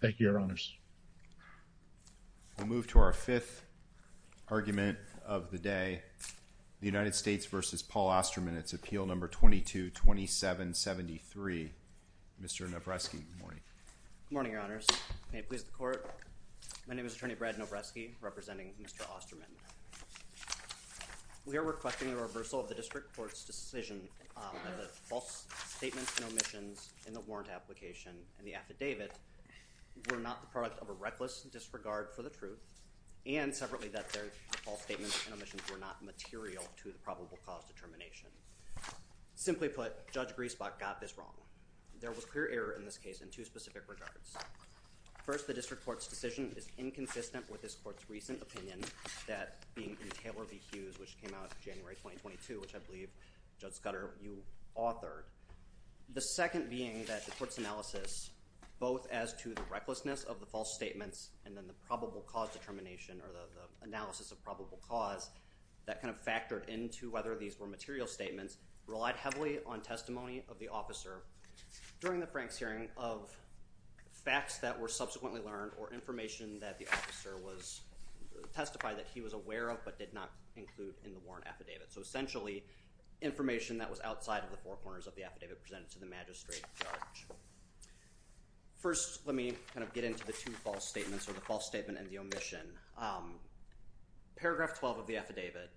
It's appeal number 22-27-73. Mr. Nobresky, good morning. Good morning, Your Honors. May it please the Court, my name is Attorney Brad Nobresky, representing Mr. Osterman. We are requesting the reversal of the District Court's decision that the false statements and omissions in the warrant application and the affidavit were not the product of a reckless disregard for the truth and, separately, that their false statements and omissions were not material to the probable cause determination. Simply put, Judge Griesbach got this wrong. There was clear error in this case in two specific regards. First, the District Court's decision is inconsistent with this Court's recent opinion, that being in Taylor v. Hughes, which came out January 2022, which I believe Judge Scudder, you authored. The second being that the Court's analysis, both as to the recklessness of the false statements and then the probable cause determination or the analysis of probable cause, that kind of factored into whether these were material statements, relied heavily on testimony of the officer during the Franks hearing of facts that were subsequently learned or information that the officer testified that he was aware of but did not include in the warrant affidavit. So, essentially, information that was outside of the four corners of the affidavit presented to the magistrate judge. First, let me kind of get into the two false statements or the false statement and the omission. Paragraph 12 of the affidavit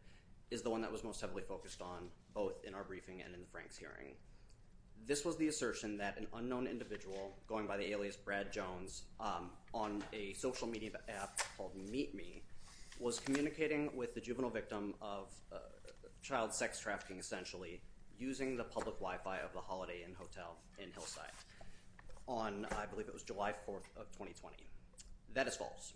is the one that was most heavily focused on, both in our briefing and in the Franks hearing. This was the assertion that an unknown individual, going by the alias Brad Jones, on a social media app called Meet Me, was communicating with the juvenile victim of child sex trafficking, essentially, using the public Wi-Fi of the Holiday Inn Hotel in Hillside on, I believe it was July 4th of 2020. That is false.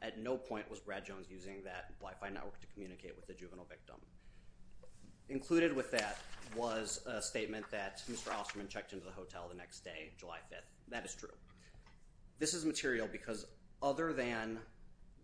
At no point was Brad Jones using that Wi-Fi network to communicate with the juvenile victim. Included with that was a statement that Mr. Osterman checked into the hotel the next day, July 5th. That is true. This is material because other than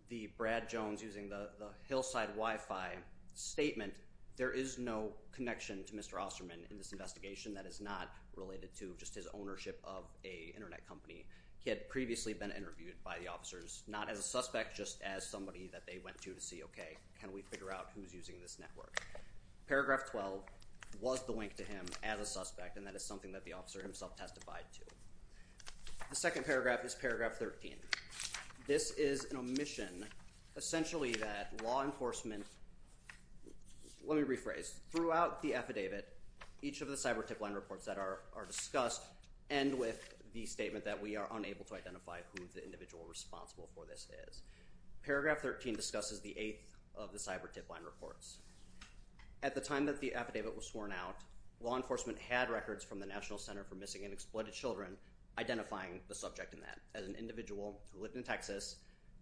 the Brad Jones using the Hillside Wi-Fi statement, there is no connection to Mr. Osterman in this investigation that is not related to just his ownership of an Internet company. He had previously been interviewed by the officers, not as a suspect, just as they went to to see, okay, can we figure out who's using this network? Paragraph 12 was the link to him as a suspect, and that is something that the officer himself testified to. The second paragraph is paragraph 13. This is an omission, essentially, that law enforcement, let me rephrase, throughout the affidavit, each of the cyber tip line reports that are discussed end with the statement that we are unable to identify who the individual responsible for this is. Paragraph 13 discusses the eighth of the cyber tip line reports. At the time that the affidavit was sworn out, law enforcement had records from the National Center for Missing and Exploited Children identifying the subject in that as an individual who lived in Texas,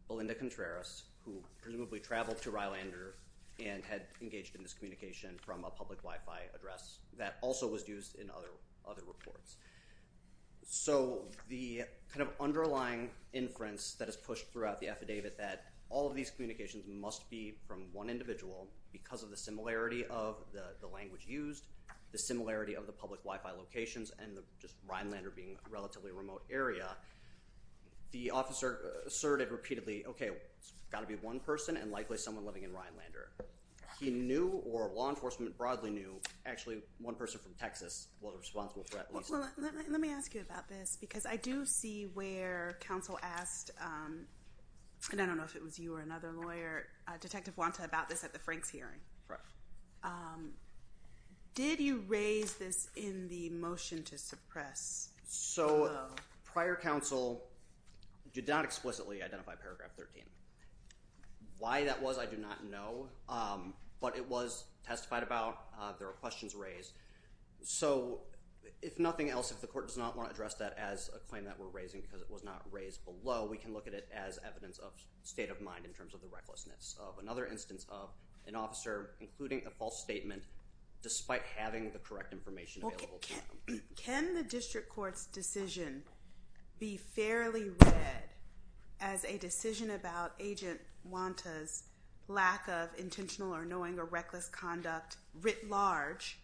Belinda Contreras, who presumably traveled to Rylander and had engaged in this communication from a public Wi-Fi address that also was used in other reports. So the kind of underlying inference that is pushed throughout the affidavit that all of these communications must be from one individual because of the similarity of the language used, the similarity of the public Wi-Fi locations, and just Rylander being a relatively remote area, the officer asserted repeatedly, okay, it's got to be one person and likely someone living in Rylander. He knew, or law enforcement broadly knew, actually one person from Texas was responsible for that. Well, let me ask you about this because I do see where counsel asked, and I don't know if it was you or another lawyer, Detective Wanta, about this at the Franks hearing. Correct. Did you raise this in the motion to suppress? So prior counsel did not explicitly identify paragraph 13. Why that was I do not know, but it was testified about. There were questions raised. So if nothing else, if the court does not want to address that as a claim that we're raising because it was not raised below, we can look at it as evidence of state of mind in terms of the recklessness of another instance of an officer including a false statement despite having the correct information available to them. Can the district court's decision be fairly read as a decision about Agent Wanta's lack of intentional or knowing or reckless conduct writ large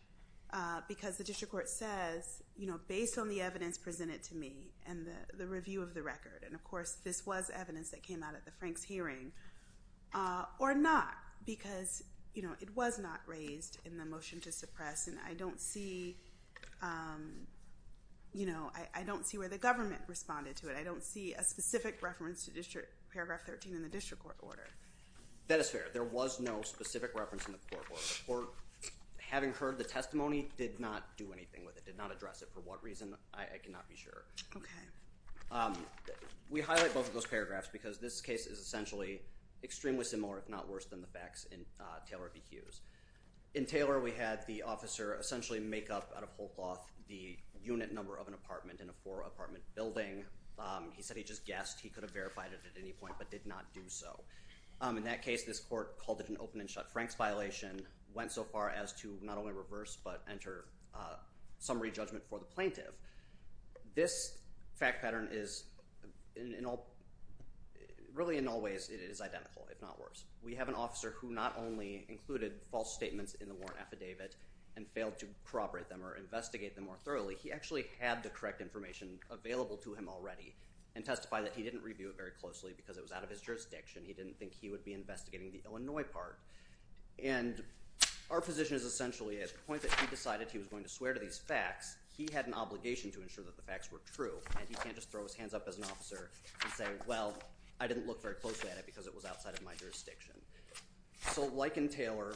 because the district court says based on the evidence presented to me and the review of the record, and of course this was evidence that came out at the Franks hearing, or not because it was not raised in the motion to suppress, and I don't see where the government responded to it. I don't see a specific reference to paragraph 13 in the district court order. That is fair. There was no specific reference in the court order. The court, having heard the testimony, did not do anything with it, did not address it. For what reason, I cannot be sure. Okay. We highlight both of those paragraphs because this case is essentially extremely similar if not worse than the facts in Taylor v. Hughes. In Taylor we had the officer essentially make up out of whole cloth the unit number of an apartment in a four apartment building. He said he just guessed he could have verified it at any point but did not do so. In that case this court called it an open and shut Franks violation, went so far as to not only reverse but enter summary judgment for the plaintiff. This fact pattern is really in all ways it is identical if not worse. We have an officer who not only included false statements in the warrant affidavit and failed to corroborate them or investigate them more already and testify that he did not review it very closely because it was out of his jurisdiction. He did not think he would be investigating the Illinois part. Our position is essentially at the point that he decided he was going to swear to these facts, he had an obligation to ensure that the facts were true and he cannot just throw his hands up as an officer and say, well, I did not look very closely at it because it was outside of my jurisdiction. Like in Taylor,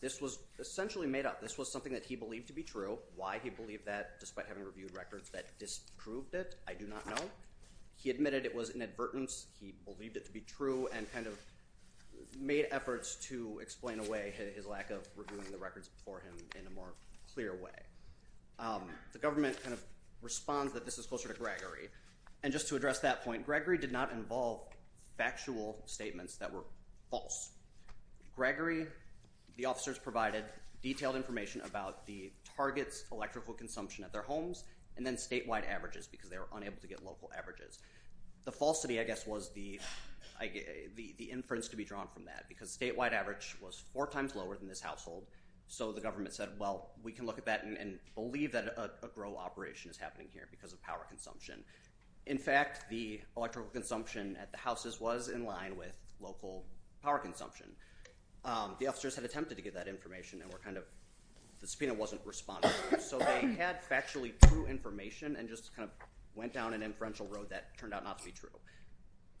this was essentially made up. This was something that he believed to be true. Why he believed that despite having reviewed records that disproved it, I do not know. He admitted it was inadvertence. He believed it to be true and kind of made efforts to explain away his lack of reviewing the records before him in a more clear way. The government kind of responds that this is closer to Gregory. And just to address that point, Gregory did not involve factual statements that were false. Gregory, the officers provided detailed information about the target's electrical consumption at their homes and then statewide averages because they were unable to get local averages. The falsity I guess was the inference to be drawn from that because statewide average was four times lower than this household so the government said, well, we can look at that and believe that a grow operation is happening here because of power consumption. In fact, the electrical consumption at the houses was in line with local power consumption. The officers had attempted to get that information and were kind of, the subpoena wasn't responding. So they had factually true information and just kind of went down an inferential road that turned out not to be true.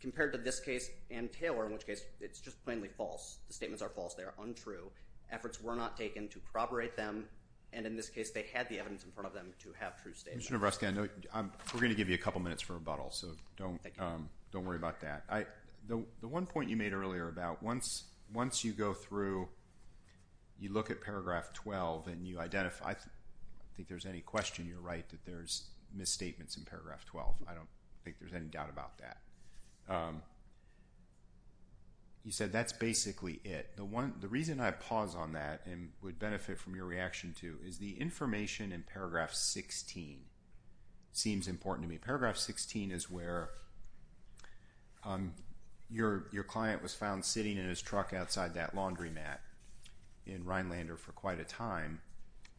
Compared to this case and Taylor in which case, it's just plainly false. The statements are false. They are untrue. Efforts were not taken to corroborate them and in this case they had the evidence in front of them to have true statements. Mr. Nebreska, we're going to give you a couple minutes for rebuttal so don't worry about that. The one point you made earlier about once you go through, you look at paragraph 12 and you identify, I think there's any question you're right that there's misstatements in paragraph 12. I don't think there's any doubt about that. You said that's basically it. The reason I pause on that and would benefit from your reaction to is the information in paragraph 16 seems important to me. Paragraph 16 is where your client was found sitting in his truck outside that laundromat in Rhinelander for quite a time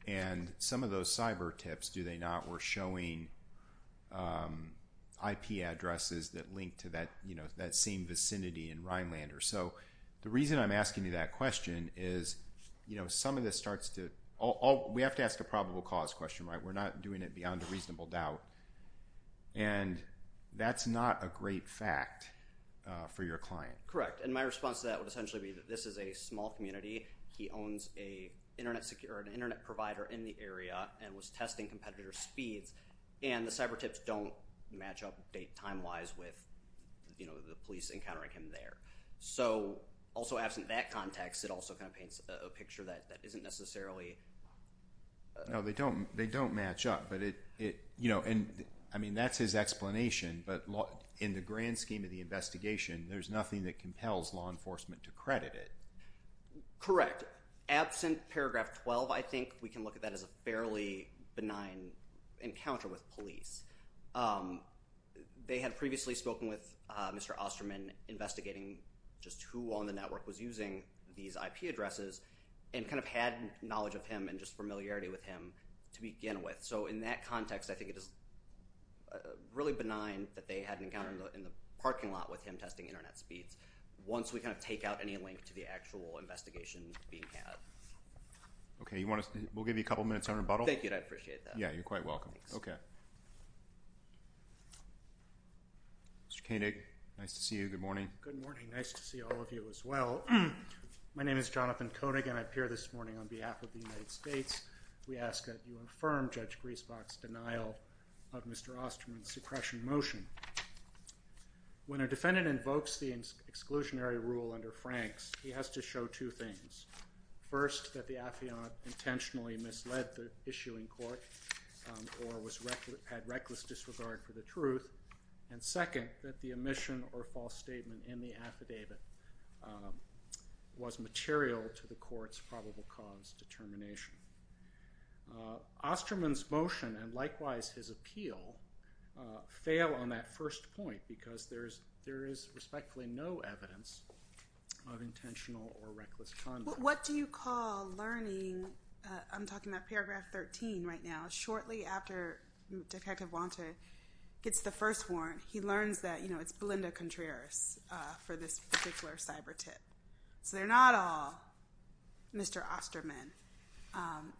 and some of those cyber tips, do they not, were showing IP addresses that linked to that same vicinity in Rhinelander. So the reason I'm asking you that question is some of this starts to, we have to ask a probable cause question. We're not doing it beyond a reasonable doubt. And that's not a great fact for your client. Correct. And my response to that would essentially be that this is a small community. He owns an internet provider in the area and was testing competitor speeds and the cyber tips don't match up date time-wise with the police encountering him there. So also absent that context, it also kind of paints a picture that isn't necessarily... No, they don't match up. I mean, that's his explanation, but in the grand scheme of the investigation, there's nothing that compels law enforcement to credit it. Correct. Absent paragraph 12, I think we can look at that as a fairly benign encounter with police. They had previously spoken with Mr. Osterman investigating just who on the internet he addresses and kind of had knowledge of him and just familiarity with him to begin with. So in that context, I think it is really benign that they had an encounter in the parking lot with him testing internet speeds. Once we kind of take out any link to the actual investigation being had. Okay. We'll give you a couple minutes on rebuttal. Thank you. I appreciate that. Yeah, you're quite welcome. Okay. Mr. Koenig, nice to see you. Good morning. Good morning. Nice to see all of you as well. My name is Jonathan Koenig and I appear this morning on behalf of the United States. We ask that you affirm Judge Griesbach's denial of Mr. Osterman's suppression motion. When a defendant invokes the exclusionary rule under Frank's, he has to show two things. First, that the affiant intentionally misled the issuing court or had reckless disregard for the truth. And second, that the omission or false statement in the affidavit was material to the court's probable cause determination. Osterman's motion and likewise his appeal fail on that first point because there is respectfully no evidence of intentional or reckless conduct. What do you call learning, I'm talking about paragraph 13 right now, shortly after Detective Contreras for this particular cyber tip. So they're not all Mr. Osterman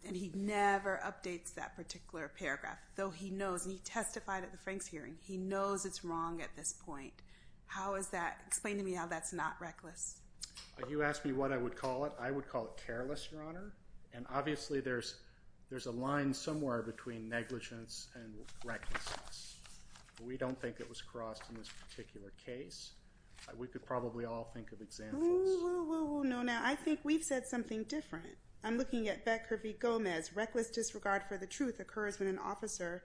and he never updates that particular paragraph, though he knows, and he testified at the Frank's hearing, he knows it's wrong at this point. How is that, explain to me how that's not reckless. You asked me what I would call it. I would call it careless, Your Honor, and obviously there's a line somewhere between negligence and recklessness. We don't think it was crossed in this particular case. We could probably all think of examples. No, no. I think we've said something different. I'm looking at Becker v. Gomez. Reckless disregard for the truth occurs when an officer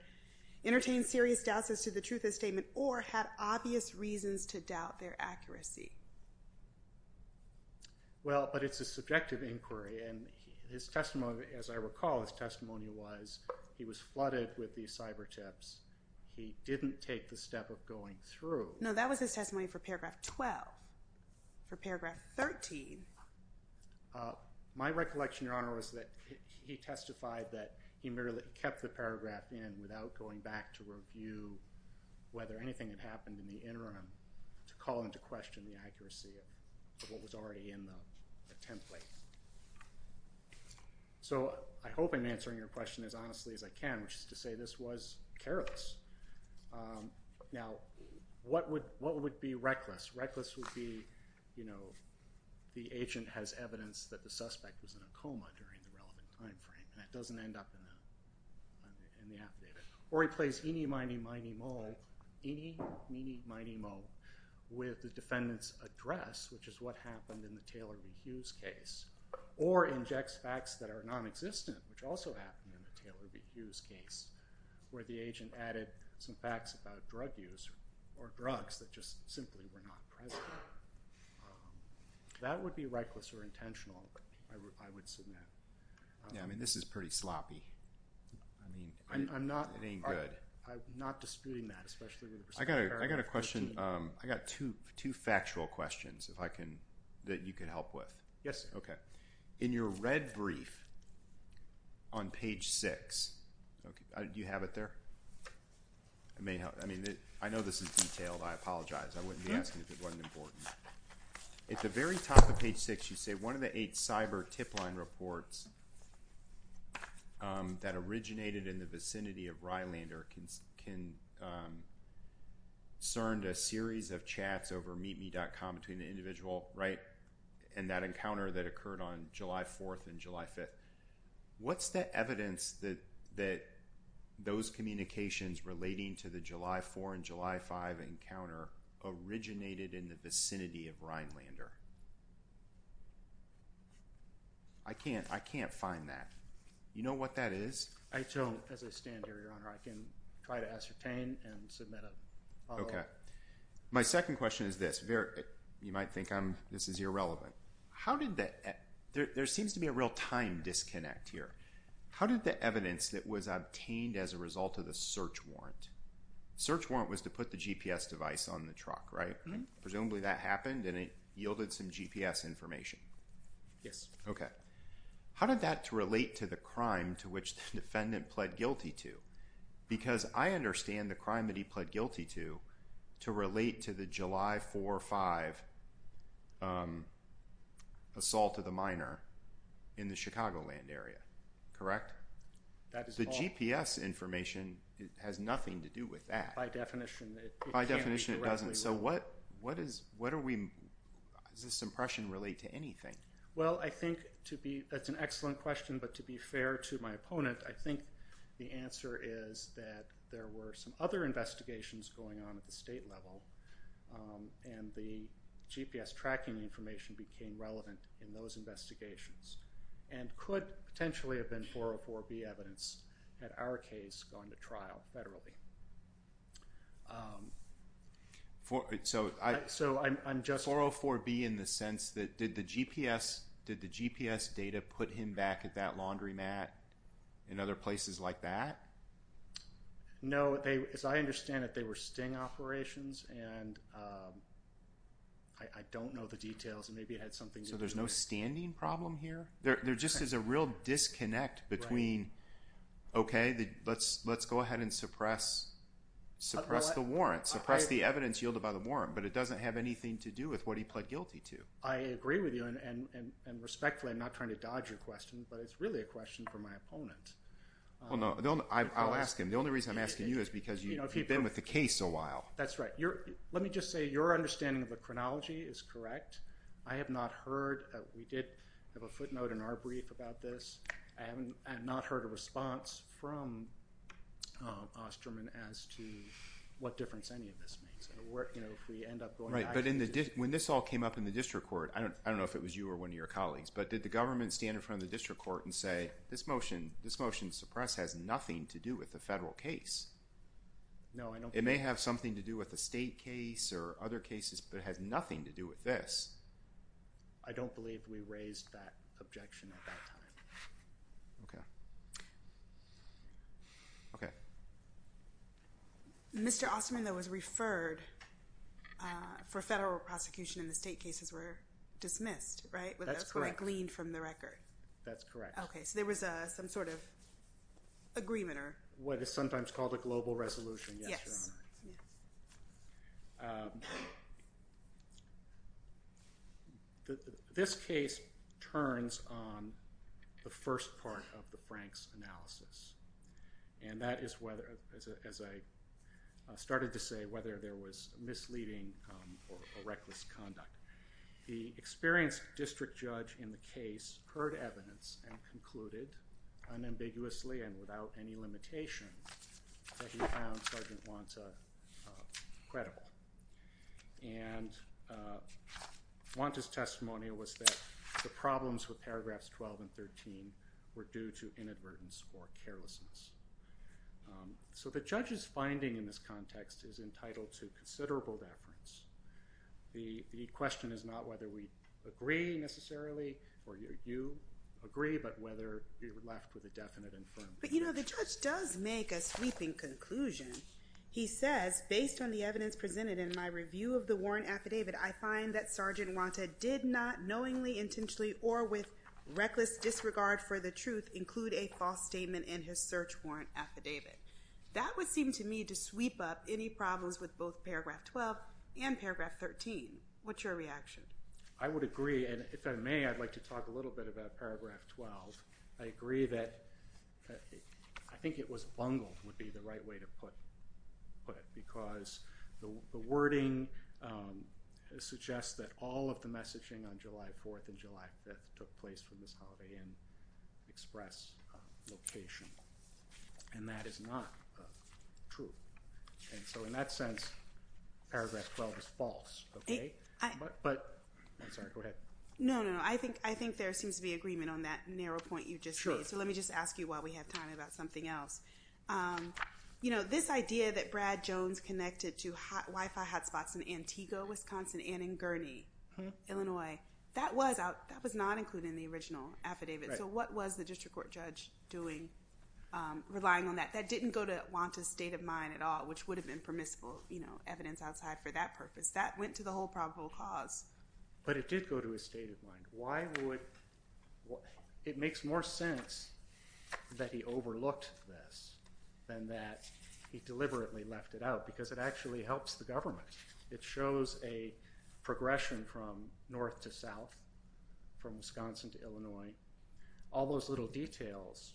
entertains serious doubts as to the truth of the statement or had obvious reasons to doubt their accuracy. Well, but it's a subjective inquiry and his testimony, as I recall, his testimony was he was flooded with these cyber tips. He didn't take the step of going through. No, that was his testimony for paragraph 12. For paragraph 13. My recollection, Your Honor, was that he testified that he merely kept the paragraph in without going back to review whether anything had happened in the interim to call into question the accuracy of what was already in the template. So I hope I'm answering your question as honestly as I can, which is to say this was careless. Now, what would be reckless? Reckless would be, you know, the agent has evidence that the suspect was in a coma during the relevant time frame and that doesn't end up in the affidavit. Or he plays eenie, meenie, miney, moe, eenie, meenie, miney, moe, with the defendant's address, which is what happened in the Taylor v. Hughes case, or injects facts that are non-existent, which also happened in the Taylor v. Hughes case, where the agent added some facts about drug use or drugs that just simply were not present. That would be reckless or intentional, I would submit. Yeah, I mean, this is pretty sloppy. I mean, it ain't good. I'm not disputing that, especially with respect to paragraph 13. I got a question. I got two factual questions that you can help with. Yes. Okay. In your red brief on page 6, do you have it there? I mean, I know this is detailed. I apologize. I wouldn't be asking if it wasn't important. At the very top of page 6, you a series of chats over meetme.com between the individual, right, and that encounter that occurred on July 4th and July 5th. What's the evidence that those communications relating to the July 4 and July 5 encounter originated in the vicinity of Rhinelander? I can't find that. You know what that is? As I stand here, Your Honor, I can try to ascertain and submit a follow-up. Okay. My second question is this. You might think this is irrelevant. There seems to be a real time disconnect here. How did the evidence that was obtained as a result of the search warrant, search warrant was to put the GPS device on the truck, right? Presumably that happened and it yielded some GPS information. Yes. Okay. How did that relate to the crime to which the defendant pled guilty to? Because I understand the crime that he pled guilty to to relate to the July 4 or 5 assault of the minor in the Chicagoland area, correct? That is all. The GPS information has nothing to do with that. By definition, it can't be directly related. By definition, it doesn't. So what are we, does this impression relate to anything? Well, I think to be, that's an excellent question, but to be fair to my opponent, I think the answer is that there were some other investigations going on at the state level and the GPS tracking information became relevant in those investigations and could potentially have been 404B evidence at our case going to trial federally. So I'm just 404B in the sense that did the GPS data put him back at that laundromat in other places like that? No, as I understand it, they were sting operations and I don't know the details and maybe it had something to do with that. So there's no standing problem here? There just is a real disconnect between, okay, let's go ahead and suppress the warrant, suppress the evidence yielded by the warrant, but it is what he pled guilty to. I agree with you and respectfully, I'm not trying to dodge your question, but it's really a question for my opponent. Well, no, I'll ask him. The only reason I'm asking you is because you've been with the case a while. That's right. Let me just say your understanding of the chronology is correct. I have not heard, we did have a footnote in our brief about this. I have not heard a response from Osterman as to what difference any of this makes. Right, but when this all came up in the district court, I don't know if it was you or one of your colleagues, but did the government stand in front of the district court and say, this motion to suppress has nothing to do with the federal case? No, I don't think so. It may have something to do with the state case or other cases, but it has nothing to do with this. I don't believe we raised that objection at that time. Okay. Okay. Mr. Osterman, though, was referred for federal prosecution and the state cases were dismissed, right? That's correct. That's what I gleaned from the record. That's correct. Okay, so there was some sort of agreement or... What is sometimes called a global resolution, yes, Your Honor. Yes. This case turns on the first part of the Frank's analysis, and that is, as I started to say, whether there was misleading or reckless conduct. The experienced district judge in the case heard evidence and concluded unambiguously and without any limitation that he found Sergeant Wanta credible. And Wanta's testimonial was that the problems with paragraphs 12 and 13 were due to inadvertence or carelessness. So the judge's finding in this context is entitled to considerable deference. The question is not whether we agree necessarily or you agree, but whether you're left with a definite and firm view. But, you know, the judge does make a sweeping conclusion. He says, based on the evidence presented in my review of the warrant affidavit, I find that Sergeant Wanta did not knowingly, intentionally, or with reckless disregard for the truth include a false statement in his search warrant affidavit. That would seem to me to sweep up any problems with both paragraph 12 and paragraph 13. What's your reaction? I would agree. And if I may, I'd like to talk a little bit about paragraph 12. I agree that I think it was bungled would be the right way to put it. Because the wording suggests that all of the messaging on July 4th and July 5th took place from this Holiday Inn Express location. And that is not true. And so in that sense, paragraph 12 is false. Okay? Sorry, go ahead. No, no. I think there seems to be agreement on that narrow point you just made. So let me just ask you while we have time about something else. You know, this idea that Brad Jones connected to Wi-Fi hotspots in Antigua, Wisconsin, and in Gurney, Illinois, that was not included in the original affidavit. So what was the district court judge doing, relying on that? That didn't go to Wanta's state of mind at all, which would have been permissible, you know, evidence outside for that purpose. That went to the whole probable cause. But it did go to his state of mind. Why would – it makes more sense that he overlooked this than that he deliberately left it out, because it actually helps the government. It shows a progression from north to south, from Wisconsin to Illinois. All those little details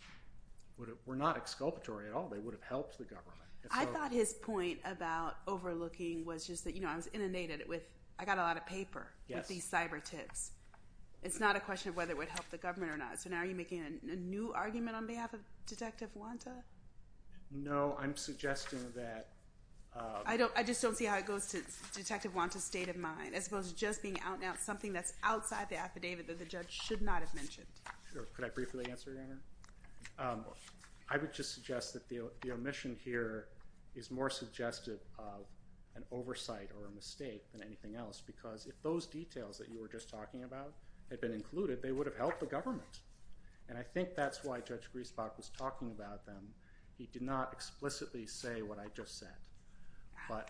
were not exculpatory at all. They would have helped the government. I thought his point about overlooking was just that, you know, I was inundated with – I got a lot of paper with these cyber tips. It's not a question of whether it would help the government or not. So now are you making a new argument on behalf of Detective Wanta? No, I'm suggesting that – I just don't see how it goes to Detective Wanta's state of mind, as opposed to just being something that's outside the affidavit that the judge should not have mentioned. Sure. Could I briefly answer, Your Honor? I would just suggest that the omission here is more suggestive of an oversight or a mistake than anything else, because if those details that you were just talking about had been included, they would have helped the government. And I think that's why Judge Griesbach was talking about them. He did not explicitly say what I just said. But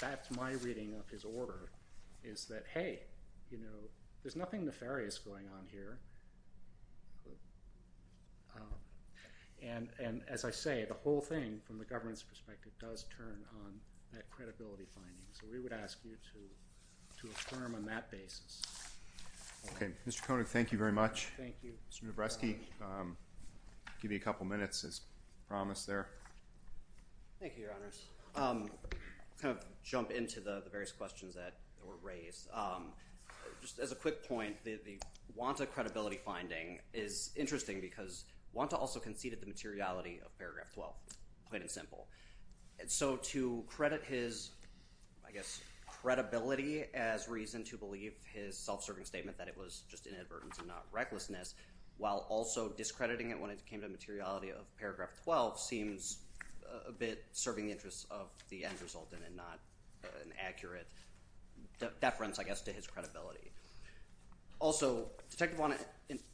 that's my reading of his order, is that, hey, you know, there's nothing nefarious going on here. And as I say, the whole thing, from the government's perspective, does turn on that credibility finding. So we would ask you to affirm on that basis. Okay. Mr. Koenig, thank you very much. Thank you. Mr. Nabreski, I'll give you a couple minutes as promised there. Thank you, Your Honors. I'll kind of jump into the various questions that were raised. Just as a quick point, the Wanta credibility finding is interesting because Wanta also conceded the materiality of Paragraph 12, plain and simple. So to credit his, I guess, credibility as reason to believe his self-serving statement that it was just inadvertence and not recklessness, while also discrediting it when it came to the materiality of Paragraph 12, seems a bit serving the interests of the end resultant and not an accurate deference, I guess, to his credibility. Also, Detective Wanta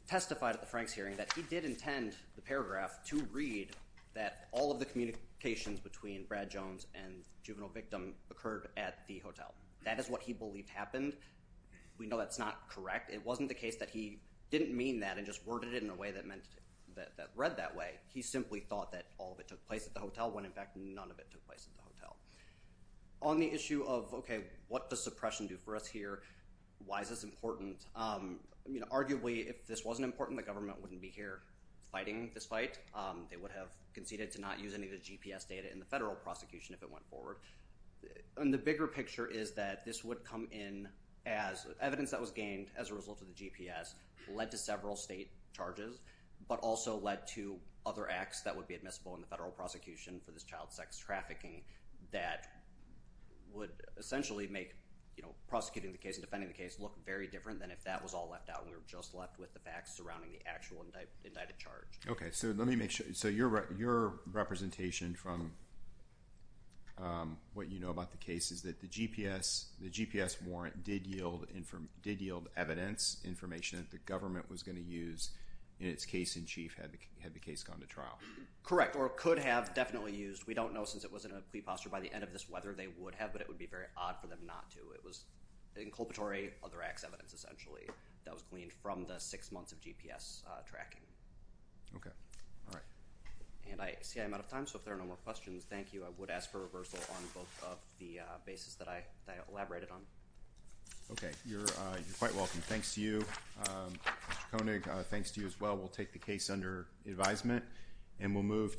testified at the Franks hearing that he did intend the paragraph to read that all of the communications between Brad Jones and juvenile victim occurred at the hotel. That is what he believed happened. We know that's not correct. It wasn't the case that he didn't mean that and just worded it in a way that read that way. He simply thought that all of it took place at the hotel when, in fact, none of it took place at the hotel. On the issue of, okay, what does suppression do for us here? Why is this important? Arguably, if this wasn't important, the government wouldn't be here fighting this fight. They would have conceded to not use any of the GPS data in the federal prosecution if it went forward. The bigger picture is that this would come in as evidence that was gained as a result of the GPS led to several state charges, but also led to other acts that would be admissible in the federal prosecution for this child sex trafficking that would essentially make prosecuting the case and defending the case look very different than if that was all left out and we were just left with the facts surrounding the actual indicted charge. Okay. Let me make sure. Your representation from what you know about the case is that the GPS warrant did yield evidence, information that the government was going to use in its case in chief had the case gone to trial. Correct, or could have definitely used. We don't know since it was in a plea posture by the end of this whether they would have, but it would be very odd for them not to. It was inculpatory other acts evidence essentially that was gleaned from the six months of GPS tracking. Okay. All right. And I see I'm out of time, so if there are no more questions, thank you. I would ask for reversal on both of the bases that I elaborated on. Okay. You're quite welcome. Thanks to you. Mr. Koenig, thanks to you as well. We'll take the case under advisement and we'll move to.